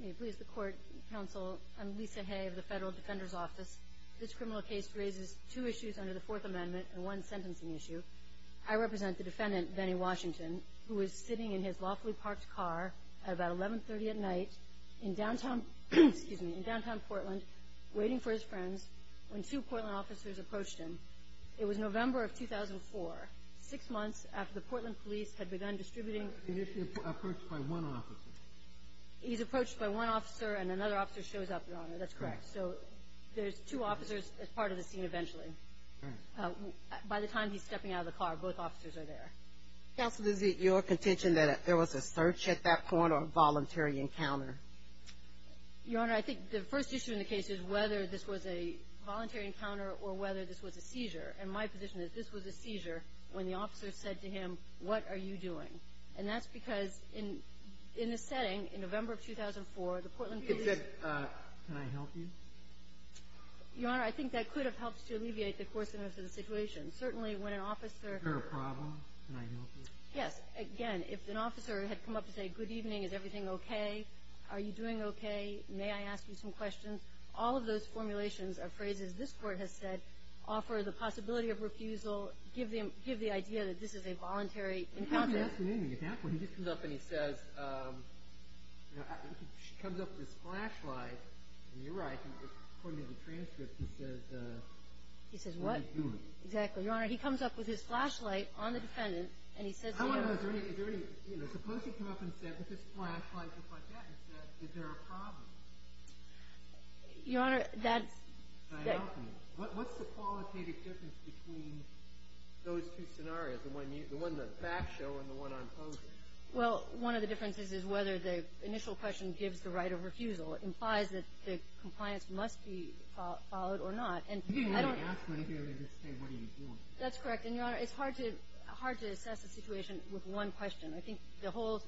May it please the Court, Counsel, I'm Lisa Hay of the Federal Defender's Office. This criminal case raises two issues under the Fourth Amendment and one sentencing issue. I represent the defendant, Benny Washington, who was sitting in his lawfully parked car at about 11.30 at night in downtown Portland waiting for his friends when two Portland officers approached him. It was November of 2004, six months after the Portland police had begun distributing the mail. He's approached by one officer and another officer shows up, Your Honor. That's correct. So there's two officers as part of the scene eventually. All right. By the time he's stepping out of the car, both officers are there. Counsel, is it your contention that there was a search at that point or a voluntary encounter? Your Honor, I think the first issue in the case is whether this was a voluntary encounter or whether this was a seizure. And my position is this was a seizure when the officer said to him, what are you doing? And that's because in the setting, in November of 2004, the Portland police ---- It said, can I help you? Your Honor, I think that could have helped to alleviate the coarseness of the situation. Certainly, when an officer ---- Is there a problem? Can I help you? Yes. Again, if an officer had come up to say, good evening, is everything okay? Are you doing okay? May I ask you some questions? All of those formulations are phrases this Court has said offer the possibility of refusal, give the idea that this is a voluntary encounter. He hasn't asked me anything at that point. He just comes up and he says, you know, comes up with his flashlight. And you're right. According to the transcript, he says, what are you doing? He says what? Exactly. Your Honor, he comes up with his flashlight on the defendant, and he says to you ---- I wonder, is there any, you know, suppose he came up and said, with his flashlight just like that, and said, is there a problem? Your Honor, that's ---- Can I help you? What's the qualitative difference between those two scenarios? The one you ---- the one in the back show and the one I'm posing? Well, one of the differences is whether the initial question gives the right of refusal. It implies that the compliance must be followed or not. And I don't ---- He didn't even ask me anything. He just said, what are you doing? That's correct. And, Your Honor, it's hard to ---- hard to assess a situation with one question. I think the whole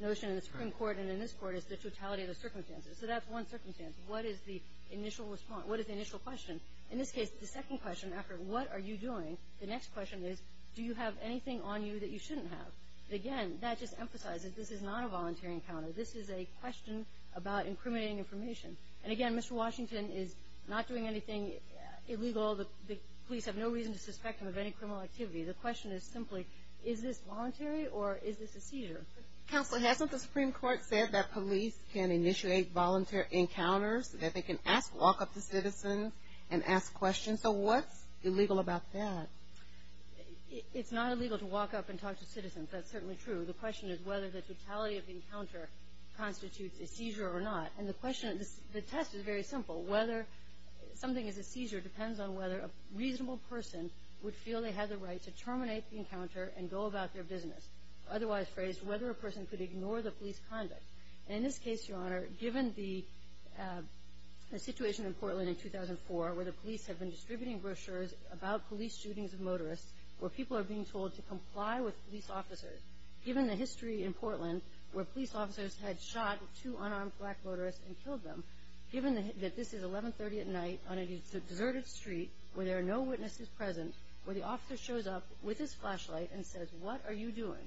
notion in the Supreme Court and in this Court is the totality of the circumstances. So that's one circumstance. What is the initial response? What is the initial question? In this case, the second question, after what are you doing, the next question is, do you have anything on you that you shouldn't have? Again, that just emphasizes this is not a voluntary encounter. This is a question about incriminating information. And, again, Mr. Washington is not doing anything illegal. The police have no reason to suspect him of any criminal activity. The question is simply, is this voluntary or is this a seizure? Counsel, hasn't the Supreme Court said that police can initiate voluntary encounters, that they can ask, walk up to citizens and ask questions? So what's illegal about that? It's not illegal to walk up and talk to citizens. That's certainly true. The question is whether the totality of the encounter constitutes a seizure or not. And the question ---- the test is very simple. Whether something is a seizure depends on whether a reasonable person would feel they had the right to terminate the encounter and go about their business. Otherwise phrased, whether a person could ignore the police conduct. And in this case, Your Honor, given the situation in Portland in 2004, where the police have been distributing brochures about police shootings of motorists, where people are being told to comply with police officers, given the history in Portland where police officers had shot two unarmed black motorists and killed them, given that this is 1130 at night on a deserted street where there are no witnesses present, where the officer shows up with his flashlight and says, What are you doing?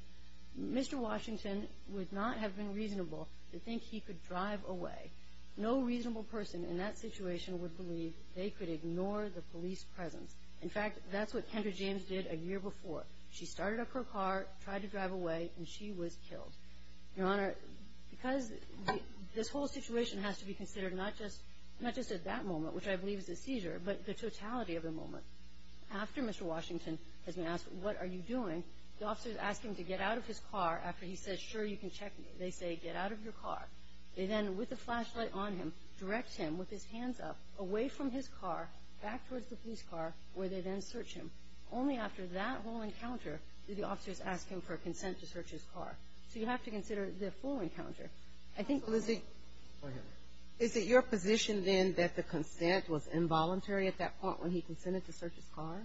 Mr. Washington would not have been reasonable to think he could drive away. No reasonable person in that situation would believe they could ignore the police presence. In fact, that's what Kendra James did a year before. She started up her car, tried to drive away, and she was killed. Your Honor, because this whole situation has to be considered not just at that moment, which I believe is a seizure, but the totality of the moment. After Mr. Washington has been asked, What are you doing? The officer is asking to get out of his car after he says, Sure, you can check me. They say, Get out of your car. They then, with the flashlight on him, direct him with his hands up away from his car, back towards the police car, where they then search him. Only after that whole encounter do the officers ask him for consent to search his car. So you have to consider the full encounter. I think it was a — Go ahead. Is it your position, then, that the consent was involuntary at that point when he consented to search his car?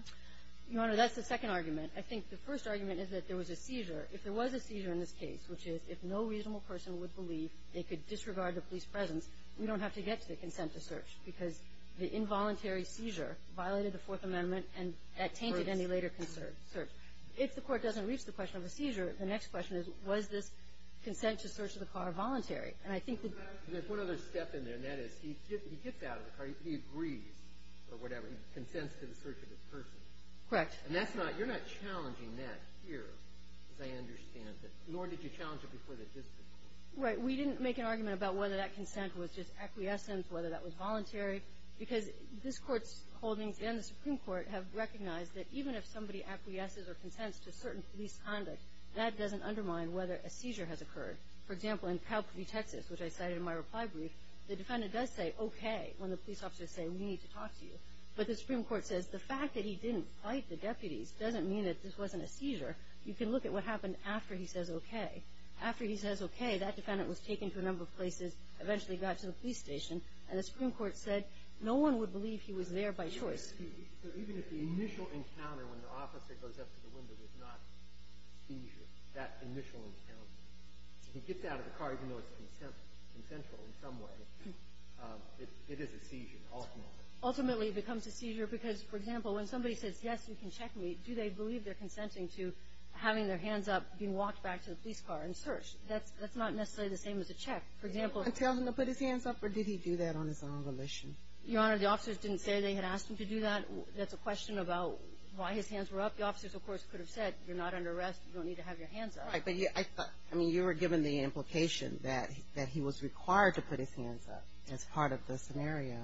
Your Honor, that's the second argument. I think the first argument is that there was a seizure. If there was a seizure in this case, which is if no reasonable person would believe they could disregard the police presence, we don't have to get to the consent to search because the involuntary seizure violated the Fourth Amendment and that tainted any later search. If the court doesn't reach the question of a seizure, the next question is, Was this consent to search the car voluntary? And I think that — There's one other step in there, and that is he gets out of the car, he agrees, or whatever, he consents to the search of his person. Correct. And that's not — you're not challenging that here, as I understand it, nor did you challenge it before the dispute. Right. We didn't make an argument about whether that consent was just acquiescence, whether that was voluntary, because this Court's holdings and the Supreme Court have recognized that even if somebody acquiesces or consents to certain police conduct, that doesn't undermine whether a seizure has occurred. For example, in Calgary, Texas, which I cited in my reply brief, the defendant does say okay when the police officers say, We need to talk to you. But the Supreme Court says the fact that he didn't fight the deputies doesn't mean that this wasn't a seizure. You can look at what happened after he says okay. After he says okay, that defendant was taken to a number of places, eventually got to the police station, and the Supreme Court said no one would believe he was there by choice. So even if the initial encounter when the officer goes up to the window is not a seizure, that initial encounter, if he gets out of the car, even though it's consensual in some way, it is a seizure ultimately. Ultimately, it becomes a seizure because, for example, when somebody says yes, you can check me, do they believe they're consenting to having their hands up, being walked back to the police car and searched? That's not necessarily the same as a check. For example — Did he tell them to put his hands up, or did he do that on his own volition? Your Honor, the officers didn't say they had asked him to do that. That's a question about why his hands were up. The officers, of course, could have said you're not under arrest, you don't need to have your hands up. Right, but I mean you were given the implication that he was required to put his hands up as part of the scenario.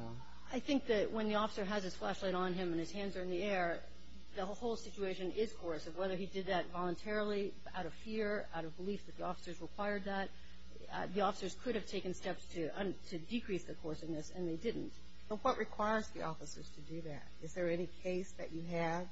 I think that when the officer has his flashlight on him and his hands are in the air, the whole situation is coercive. Whether he did that voluntarily, out of fear, out of belief that the officers required that, the officers could have taken steps to decrease the coerciveness, and they didn't. But what requires the officers to do that? Is there any case that you have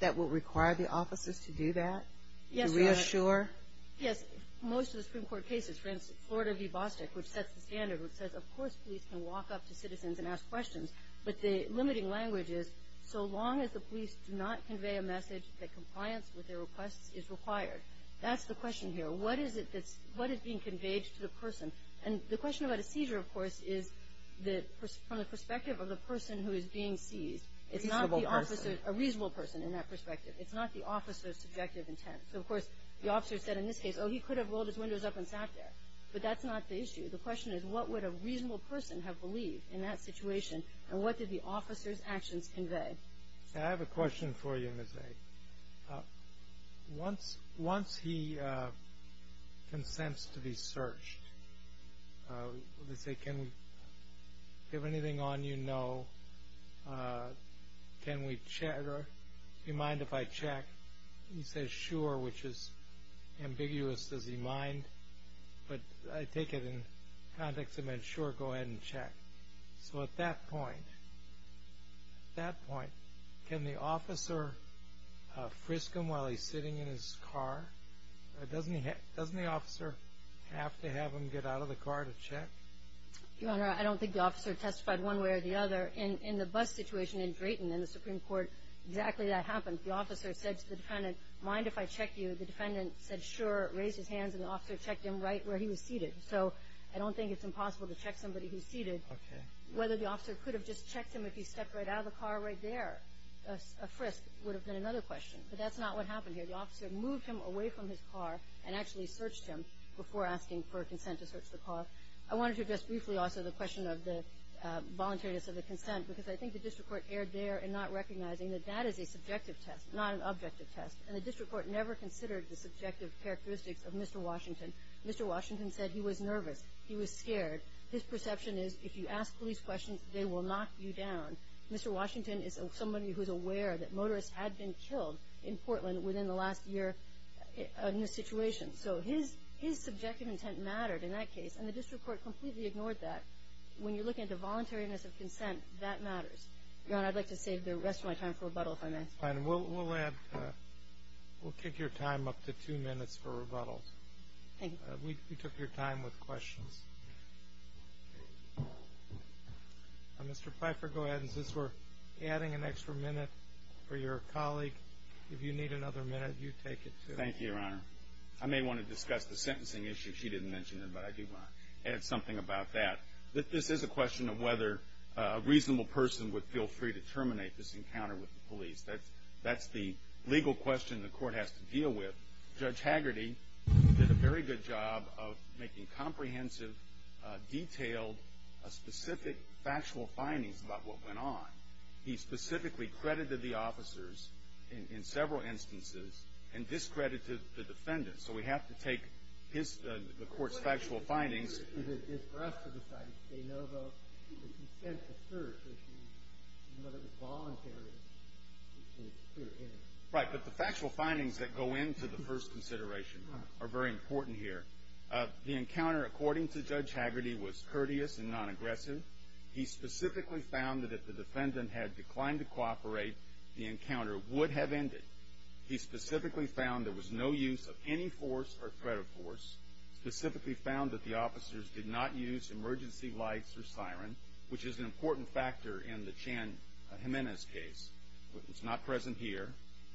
that would require the officers to do that? Yes, Your Honor. To reassure? Yes, most of the Supreme Court cases. For instance, Florida v. Bostick, which sets the standard, which says of course police can walk up to citizens and ask questions, but the limiting language is so long as the police do not convey a message that compliance with their requests is required. That's the question here. What is being conveyed to the person? And the question about a seizure, of course, is from the perspective of the person who is being seized. A reasonable person. A reasonable person in that perspective. It's not the officer's subjective intent. So, of course, the officer said in this case, oh, he could have rolled his windows up and sat there. But that's not the issue. The question is what would a reasonable person have believed in that situation and what did the officer's actions convey? I have a question for you, Ms. A. Once he consents to be searched, let's say, can we give anything on you? No. Can we check? Do you mind if I check? He says sure, which is ambiguous. Does he mind? But I take it in the context of sure, go ahead and check. So at that point, at that point, can the officer frisk him while he's sitting in his car? Doesn't the officer have to have him get out of the car to check? Your Honor, I don't think the officer testified one way or the other. In the bus situation in Drayton, in the Supreme Court, exactly that happened. The officer said to the defendant, mind if I check you? The defendant said sure, raised his hands, and the officer checked him right where he was seated. So I don't think it's impossible to check somebody who's seated. Okay. Whether the officer could have just checked him if he stepped right out of the car right there, a frisk, would have been another question. But that's not what happened here. The officer moved him away from his car and actually searched him before asking for consent to search the car. I wanted to address briefly also the question of the voluntariness of the consent because I think the district court erred there in not recognizing that that is a subjective test, not an objective test. And the district court never considered the subjective characteristics of Mr. Washington. Mr. Washington said he was nervous. He was scared. His perception is if you ask police questions, they will knock you down. Mr. Washington is somebody who's aware that motorists had been killed in Portland within the last year in this situation. So his subjective intent mattered in that case, and the district court completely ignored that. When you look at the voluntariness of consent, that matters. Your Honor, I'd like to save the rest of my time for rebuttal, if I may. Fine. We'll kick your time up to two minutes for rebuttal. Thank you. We took your time with questions. Mr. Pfeiffer, go ahead. Since we're adding an extra minute for your colleague, if you need another minute, you take it, too. Thank you, Your Honor. I may want to discuss the sentencing issue. She didn't mention it, but I do want to add something about that. This is a question of whether a reasonable person would feel free to terminate this encounter with the police. That's the legal question the court has to deal with. Judge Hagerty did a very good job of making comprehensive, detailed, specific factual findings about what went on. He specifically credited the officers in several instances and discredited the defendant. So we have to take the court's factual findings. Right, but the factual findings that go into the first consideration are very important here. The encounter, according to Judge Hagerty, was courteous and non-aggressive. He specifically found that if the defendant had declined to cooperate, the encounter would have ended. He specifically found there was no use of any force or threat of force, specifically found that the officers did not use emergency lights or siren, which is an important factor in the Chan Jimenez case. It's not present here.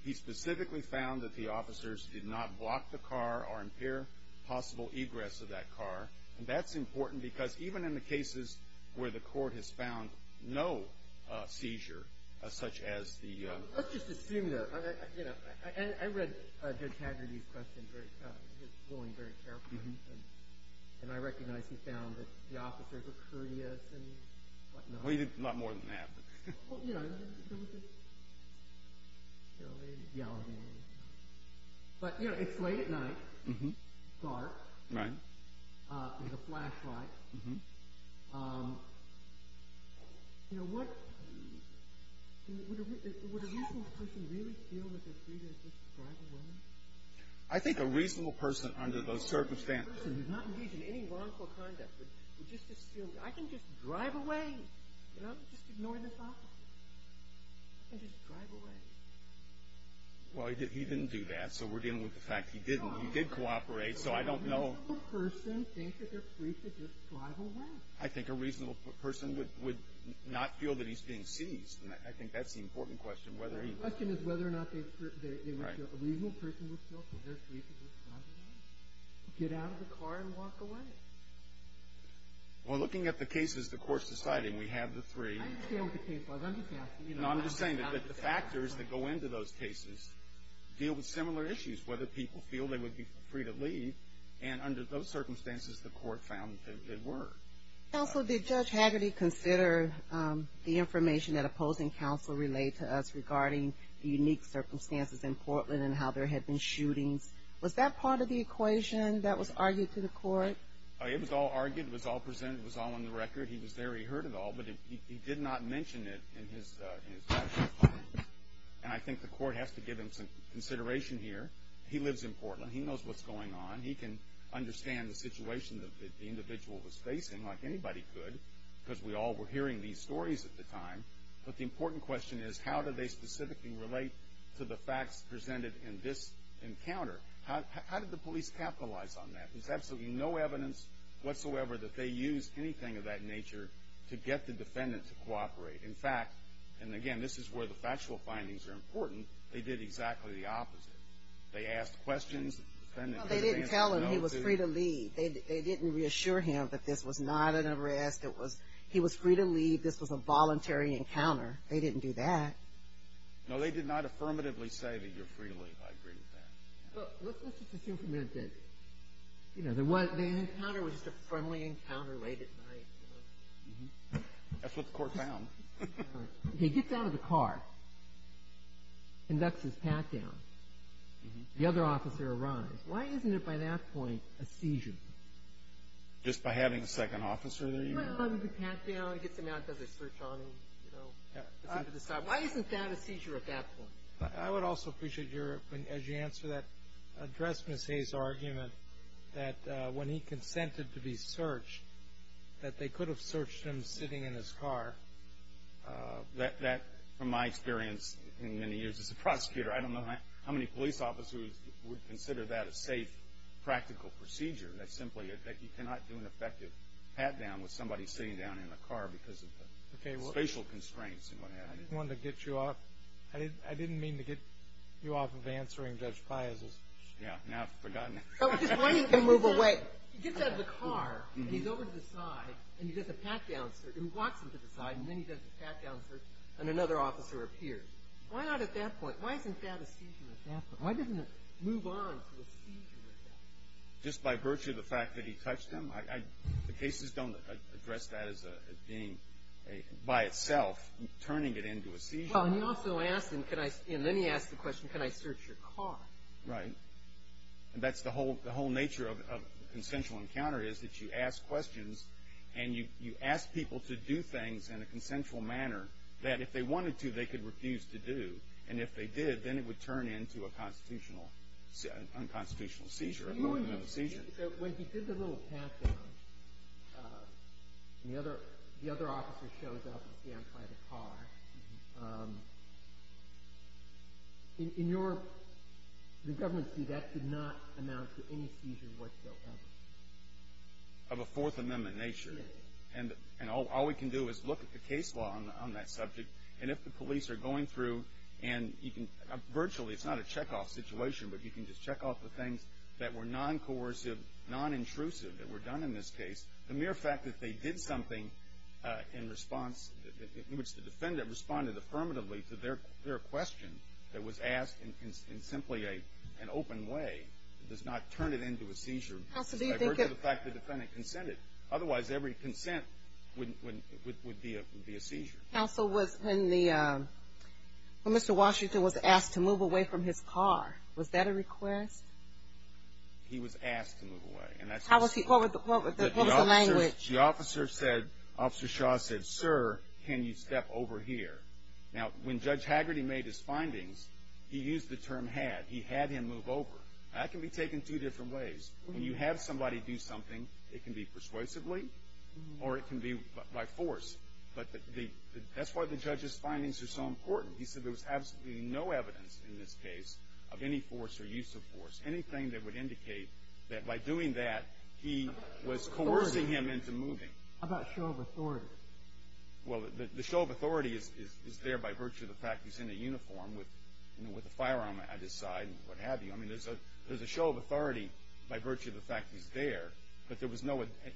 He specifically found that the officers did not block the car or impair possible egress of that car. And that's important because even in the cases where the court has found no seizure, such as the ---- Let's just assume, though. I read Judge Hagerty's question, his ruling, very carefully. And I recognize he found that the officers were courteous and whatnot. Well, he did a lot more than that. Well, you know, there was a yelling. But, you know, it's late at night. It's dark. There's a flashlight. You know, would a reasonable person really feel that they're free to just drive away? I think a reasonable person under those circumstances. A reasonable person who's not engaged in any wrongful conduct would just assume, I can just drive away, you know, just ignore this officer. I can just drive away. Well, he didn't do that, so we're dealing with the fact he didn't. He did cooperate, so I don't know. Would a reasonable person think that they're free to just drive away? I think a reasonable person would not feel that he's being seized. And I think that's the important question, whether he ---- The question is whether or not they would feel ---- Right. A reasonable person would feel that they're free to just drive away. Get out of the car and walk away. Well, looking at the cases the court's deciding, we have the three ---- I understand what the case was. I'm just asking, you know ---- No, I'm just saying that the factors that go into those cases deal with similar circumstances the court found they were. Counsel, did Judge Haggerty consider the information that opposing counsel relayed to us regarding the unique circumstances in Portland and how there had been shootings? Was that part of the equation that was argued to the court? It was all argued. It was all presented. It was all on the record. He was there. He heard it all, but he did not mention it in his ---- And I think the court has to give him some consideration here. He lives in Portland. He knows what's going on. He can understand the situation that the individual was facing like anybody could because we all were hearing these stories at the time. But the important question is how do they specifically relate to the facts presented in this encounter? How did the police capitalize on that? There's absolutely no evidence whatsoever that they used anything of that nature to get the defendant to cooperate. In fact, and again, this is where the factual findings are important, they did exactly the opposite. They asked questions. They didn't tell him he was free to leave. They didn't reassure him that this was not an arrest. He was free to leave. This was a voluntary encounter. They didn't do that. No, they did not affirmatively say that you're free to leave. I agree with that. Let's just assume for a minute that the encounter was just a friendly encounter late at night. That's what the court found. He gets out of the car and ducks his pack down. The other officer arrives. Why isn't it by that point a seizure? Just by having a second officer there? Well, if he packs down, gets him out, does a search on him. Why isn't that a seizure at that point? I would also appreciate your, as you answer that, address Ms. Hayes' argument that when he consented to be searched, that they could have searched him sitting in his car. That, from my experience in many years as a prosecutor, I don't know how many police officers would consider that a safe, practical procedure, that simply you cannot do an effective pat-down with somebody sitting down in a car because of the spatial constraints and what have you. I didn't mean to get you off of answering Judge Piazza's question. Yeah, now I've forgotten it. He gets out of the car, and he's over to the side, and he does a pat-down search. He walks him to the side, and then he does a pat-down search, and another officer appears. Why not at that point? Why isn't that a seizure at that point? Why doesn't it move on to a seizure at that point? Just by virtue of the fact that he touched him? The cases don't address that as being, by itself, turning it into a seizure. Well, he also asked him, and then he asked the question, can I search your car? Right. And that's the whole nature of a consensual encounter is that you ask questions, and you ask people to do things in a consensual manner, that if they wanted to, they could refuse to do, and if they did, then it would turn into an unconstitutional seizure, a Fourth Amendment seizure. When he did the little pat-down, and the other officer shows up and scans by the car, in your government's view, that did not amount to any seizure whatsoever? Of a Fourth Amendment nature. And all we can do is look at the case law on that subject, and if the police are going through, and you can virtually, it's not a check-off situation, but you can just check off the things that were non-coercive, non-intrusive, that were done in this case. The mere fact that they did something in response, in which the defendant responded affirmatively to their question, that was asked in simply an open way, does not turn it into a seizure. I've heard of the fact the defendant consented. Otherwise, every consent would be a seizure. Counsel, when Mr. Washington was asked to move away from his car, was that a request? He was asked to move away. What was the language? The officer said, Officer Shaw said, Sir, can you step over here? Now, when Judge Haggerty made his findings, he used the term had. He had him move over. That can be taken two different ways. When you have somebody do something, it can be persuasively or it can be by force. But that's why the judge's findings are so important. He said there was absolutely no evidence in this case of any force or use of force, anything that would indicate that by doing that, he was coercing him into moving. How about show of authority? Well, the show of authority is there by virtue of the fact he's in a uniform with a firearm at his side and what have you. I mean, there's a show of authority by virtue of the fact he's there, but there was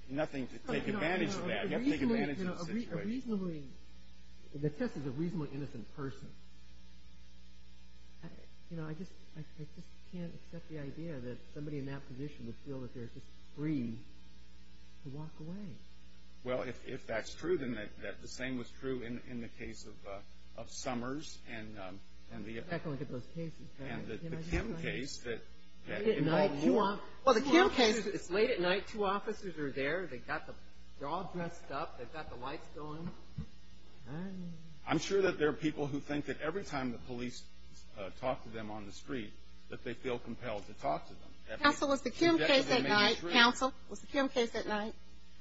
nothing to take advantage of that. You have to take advantage of the situation. The test is a reasonably innocent person. You know, I just can't accept the idea that somebody in that position would feel that they're just free to walk away. Well, if that's true, then the same was true in the case of Summers. And the Kim case that involved more officers. It's late at night. Two officers are there. They're all dressed up. They've got the lights going. I'm sure that there are people who think that every time the police talk to them on the street that they feel compelled to talk to them. Counsel, was the Kim case at night? Counsel, was the Kim case at night?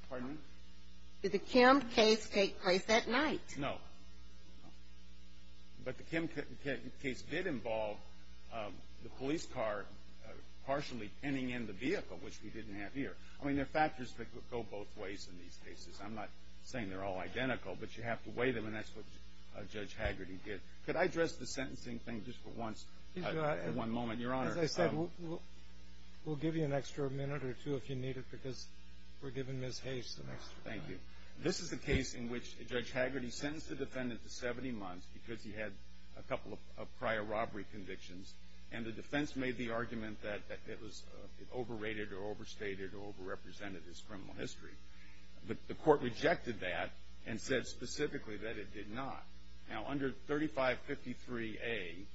Pardon me? Did the Kim case take place at night? No. But the Kim case did involve the police car partially pinning in the vehicle, which we didn't have here. I mean, there are factors that go both ways in these cases. I'm not saying they're all identical, but you have to weigh them, and that's what Judge Hagerty did. Could I address the sentencing thing just for once at one moment? Your Honor. As I said, we'll give you an extra minute or two if you need it, because we're giving Ms. Hayes an extra minute. Thank you. This is a case in which Judge Hagerty sentenced the defendant to 70 months because he had a couple of prior robbery convictions, and the defense made the argument that it overrated or overstated or overrepresented his criminal history. The court rejected that and said specifically that it did not. Now, under 3553A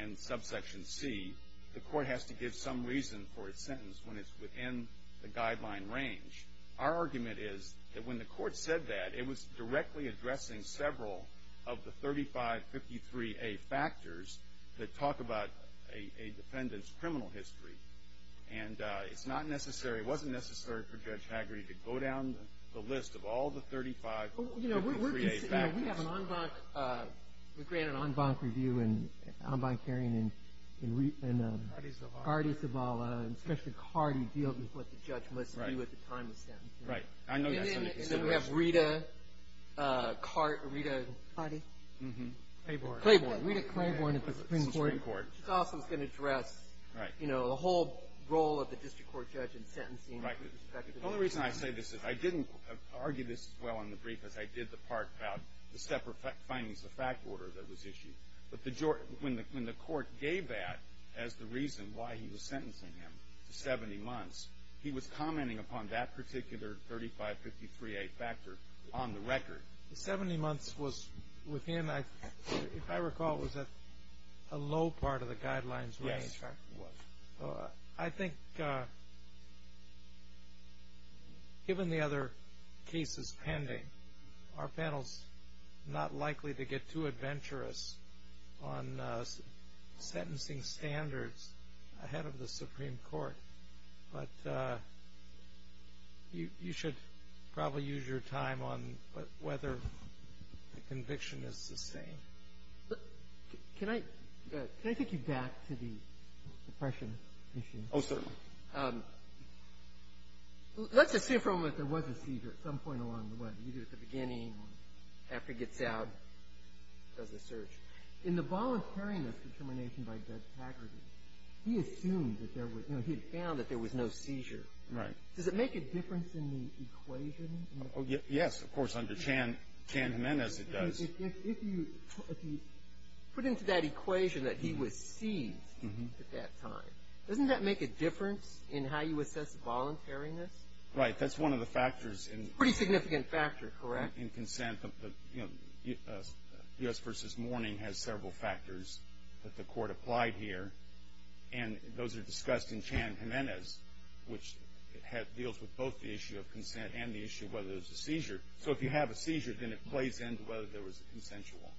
and subsection C, the court has to give some reason for its sentence when it's within the guideline range. Our argument is that when the court said that, it was directly addressing several of the 3553A factors that talk about a defendant's criminal history. And it's not necessary, it wasn't necessary for Judge Hagerty to go down the list of all the 3553A factors. You know, we have an en banc, we grant an en banc review and en banc hearing. Cardi Zavala. Cardi Zavala, and especially Cardi, deals with what the judge must do at the time of sentencing. Right. I know that's under consideration. And then we have Rita Cardi. Clayborn. Rita Clayborn at the Supreme Court. She's also going to address, you know, the whole role of the district court judge in sentencing. Right. The only reason I say this is I didn't argue this as well in the brief as I did the part about the separate findings of the fact order that was issued. But when the court gave that as the reason why he was sentencing him to 70 months, he was commenting upon that particular 3553A factor on the record. The 70 months was within, if I recall, was that a low part of the guidelines range? Yes, it was. I think given the other cases pending, our panel is not likely to get too adventurous on sentencing standards ahead of the Supreme Court. But you should probably use your time on whether the conviction is sustained. Can I take you back to the depression issue? Oh, certainly. Let's assume for a moment there was a seizure at some point along the way, either at the beginning or after he gets out, does the search. In the voluntariness determination by Doug Taggart, he assumed that there was, you know, he had found that there was no seizure. Right. Does it make a difference in the equation? Yes, of course, under Chan Jimenez it does. If you put into that equation that he was seized at that time, doesn't that make a difference in how you assess the voluntariness? Right, that's one of the factors. It's a pretty significant factor, correct? In consent. You know, U.S. v. Mourning has several factors that the Court applied here, and those are discussed in Chan Jimenez, which deals with both the issue of consent and the issue of whether there's a seizure. So if you have a seizure, then it plays into whether there was a consensual,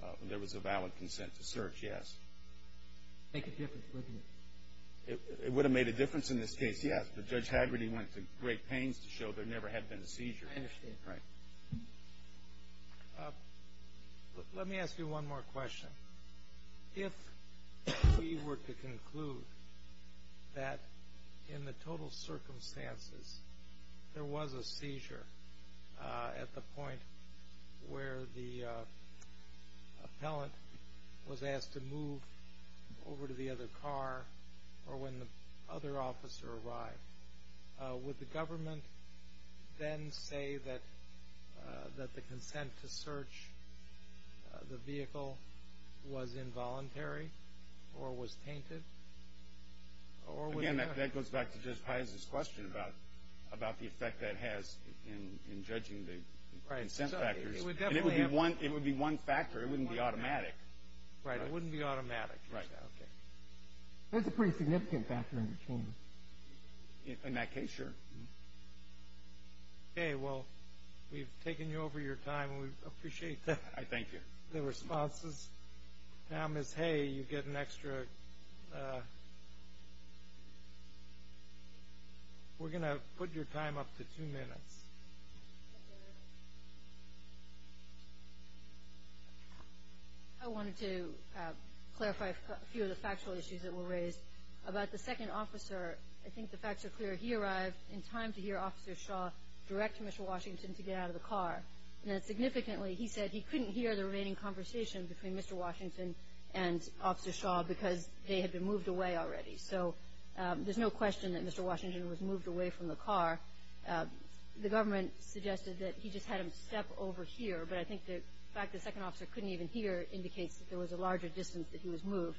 whether there was a valid consent to search, yes. Make a difference, wouldn't it? It would have made a difference in this case, yes, but Judge Haggerty went to great pains to show there never had been a seizure. I understand. Right. Let me ask you one more question. If we were to conclude that in the total circumstances there was a seizure at the point where the appellant was asked to move over to the other car or when the other officer arrived, would the government then say that the consent to search the vehicle was involuntary or was tainted? Again, that goes back to Judge Piazza's question about the effect that has in judging the consent factors. It would be one factor. It wouldn't be automatic. Right, it wouldn't be automatic. That's a pretty significant factor in the case. In that case, sure. Okay, well, we've taken you over your time, and we appreciate the responses. Now, Ms. Hay, you get an extra ---- we're going to put your time up to two minutes. Thank you. I wanted to clarify a few of the factual issues that were raised. About the second officer, I think the facts are clear. He arrived in time to hear Officer Shaw direct Mr. Washington to get out of the car. Significantly, he said he couldn't hear the remaining conversation between Mr. Washington and Officer Shaw because they had been moved away already. So there's no question that Mr. Washington was moved away from the car. The government suggested that he just had him step over here, but I think the fact the second officer couldn't even hear indicates that there was a larger distance that he was moved.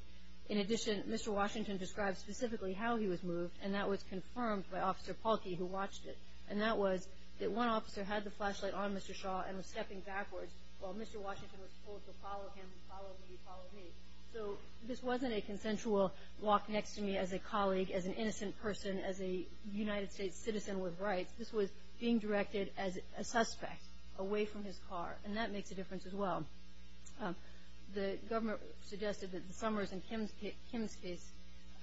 In addition, Mr. Washington described specifically how he was moved, and that was confirmed by Officer Pahlke, who watched it. And that was that one officer had the flashlight on Mr. Shaw and was stepping backwards while Mr. Washington was told to follow him, follow me, follow me. So this wasn't a consensual walk next to me as a colleague, as an innocent person, as a United States citizen with rights. This was being directed as a suspect away from his car, and that makes a difference as well. The government suggested that the Summers and Kim's case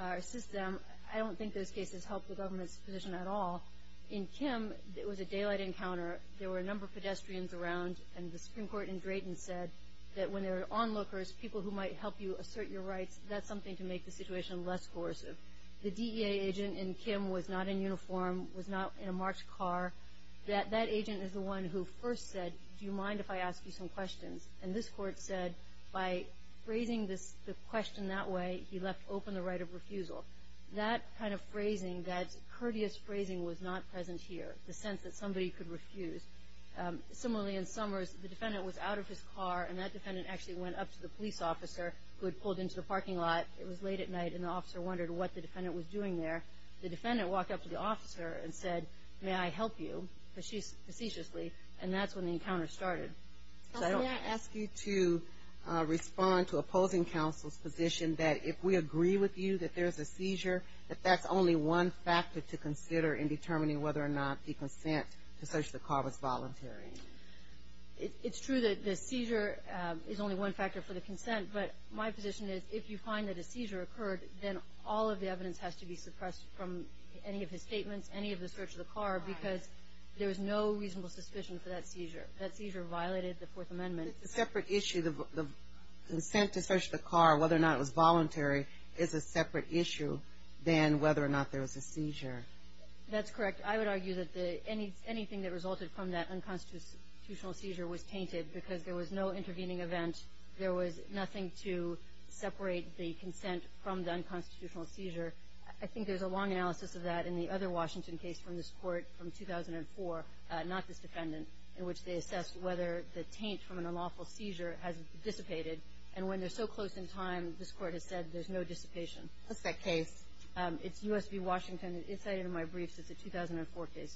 assist them. I don't think those cases help the government's position at all. In Kim, it was a daylight encounter. There were a number of pedestrians around, and the Supreme Court in Drayton said that when there are onlookers, people who might help you assert your rights, that's something to make the situation less coercive. The DEA agent in Kim was not in uniform, was not in a marched car. That agent is the one who first said, do you mind if I ask you some questions? And this Court said by phrasing the question that way, he left open the right of refusal. That kind of phrasing, that courteous phrasing was not present here, the sense that somebody could refuse. Similarly, in Summers, the defendant was out of his car, and that defendant actually went up to the police officer who had pulled into the parking lot. It was late at night, and the officer wondered what the defendant was doing there. The defendant walked up to the officer and said, may I help you, facetiously, and that's when the encounter started. May I ask you to respond to opposing counsel's position that if we agree with you that there's a seizure, that that's only one factor to consider in determining whether or not the consent to search the car was voluntary? It's true that the seizure is only one factor for the consent, but my position is if you find that a seizure occurred, then all of the evidence has to be suppressed from any of his statements, any of the search of the car, because there was no reasonable suspicion for that seizure. That seizure violated the Fourth Amendment. It's a separate issue. The consent to search the car, whether or not it was voluntary, is a separate issue than whether or not there was a seizure. That's correct. I would argue that anything that resulted from that unconstitutional seizure was tainted because there was no intervening event. There was nothing to separate the consent from the unconstitutional seizure. I think there's a long analysis of that in the other Washington case from this Court from 2004, not this defendant, in which they assessed whether the taint from an unlawful seizure has dissipated, and when they're so close in time, this Court has said there's no dissipation. What's that case? It's U.S. v. Washington. It's cited in my briefs. It's a 2004 case.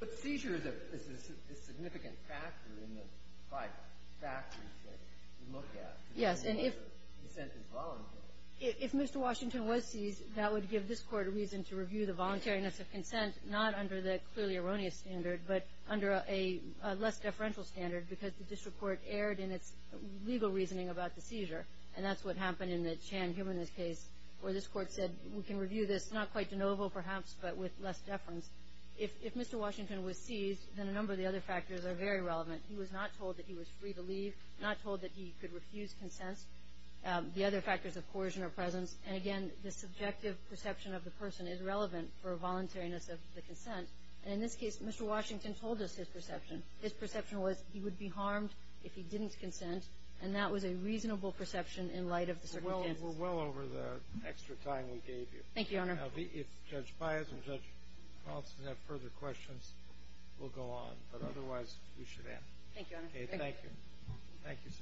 But seizure is a significant factor in the five factors that we look at. Yes. And if consent is voluntary. If Mr. Washington was seized, that would give this Court a reason to review the voluntariness of consent, not under the clearly erroneous standard, but under a less deferential standard, because the district court erred in its legal reasoning about the seizure, and that's what happened in the Chan-Humanist case, where this Court said, we can review this not quite de novo, perhaps, but with less deference. If Mr. Washington was seized, then a number of the other factors are very relevant. He was not told that he was free to leave, not told that he could refuse consents. The other factors of coercion are present, and again, the subjective perception of the person is relevant for voluntariness of the consent. And in this case, Mr. Washington told us his perception. His perception was he would be harmed if he didn't consent, and that was a reasonable perception in light of the circumstances. We're well over the extra time we gave you. Thank you, Your Honor. Now, if Judge Pius and Judge Paulson have further questions, we'll go on. But otherwise, we should end. Thank you, Your Honor. Okay, thank you. Thank you, sir.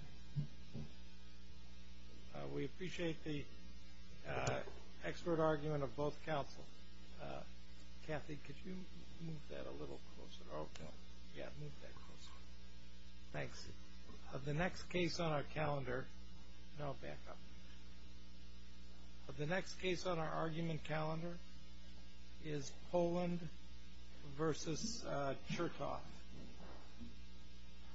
We appreciate the expert argument of both counsel. Kathy, could you move that a little closer? Okay. Yeah, move that closer. Thanks. Of the next case on our calendar, and I'll back up. Of the next case on our argument calendar is Poland v. Chertoff.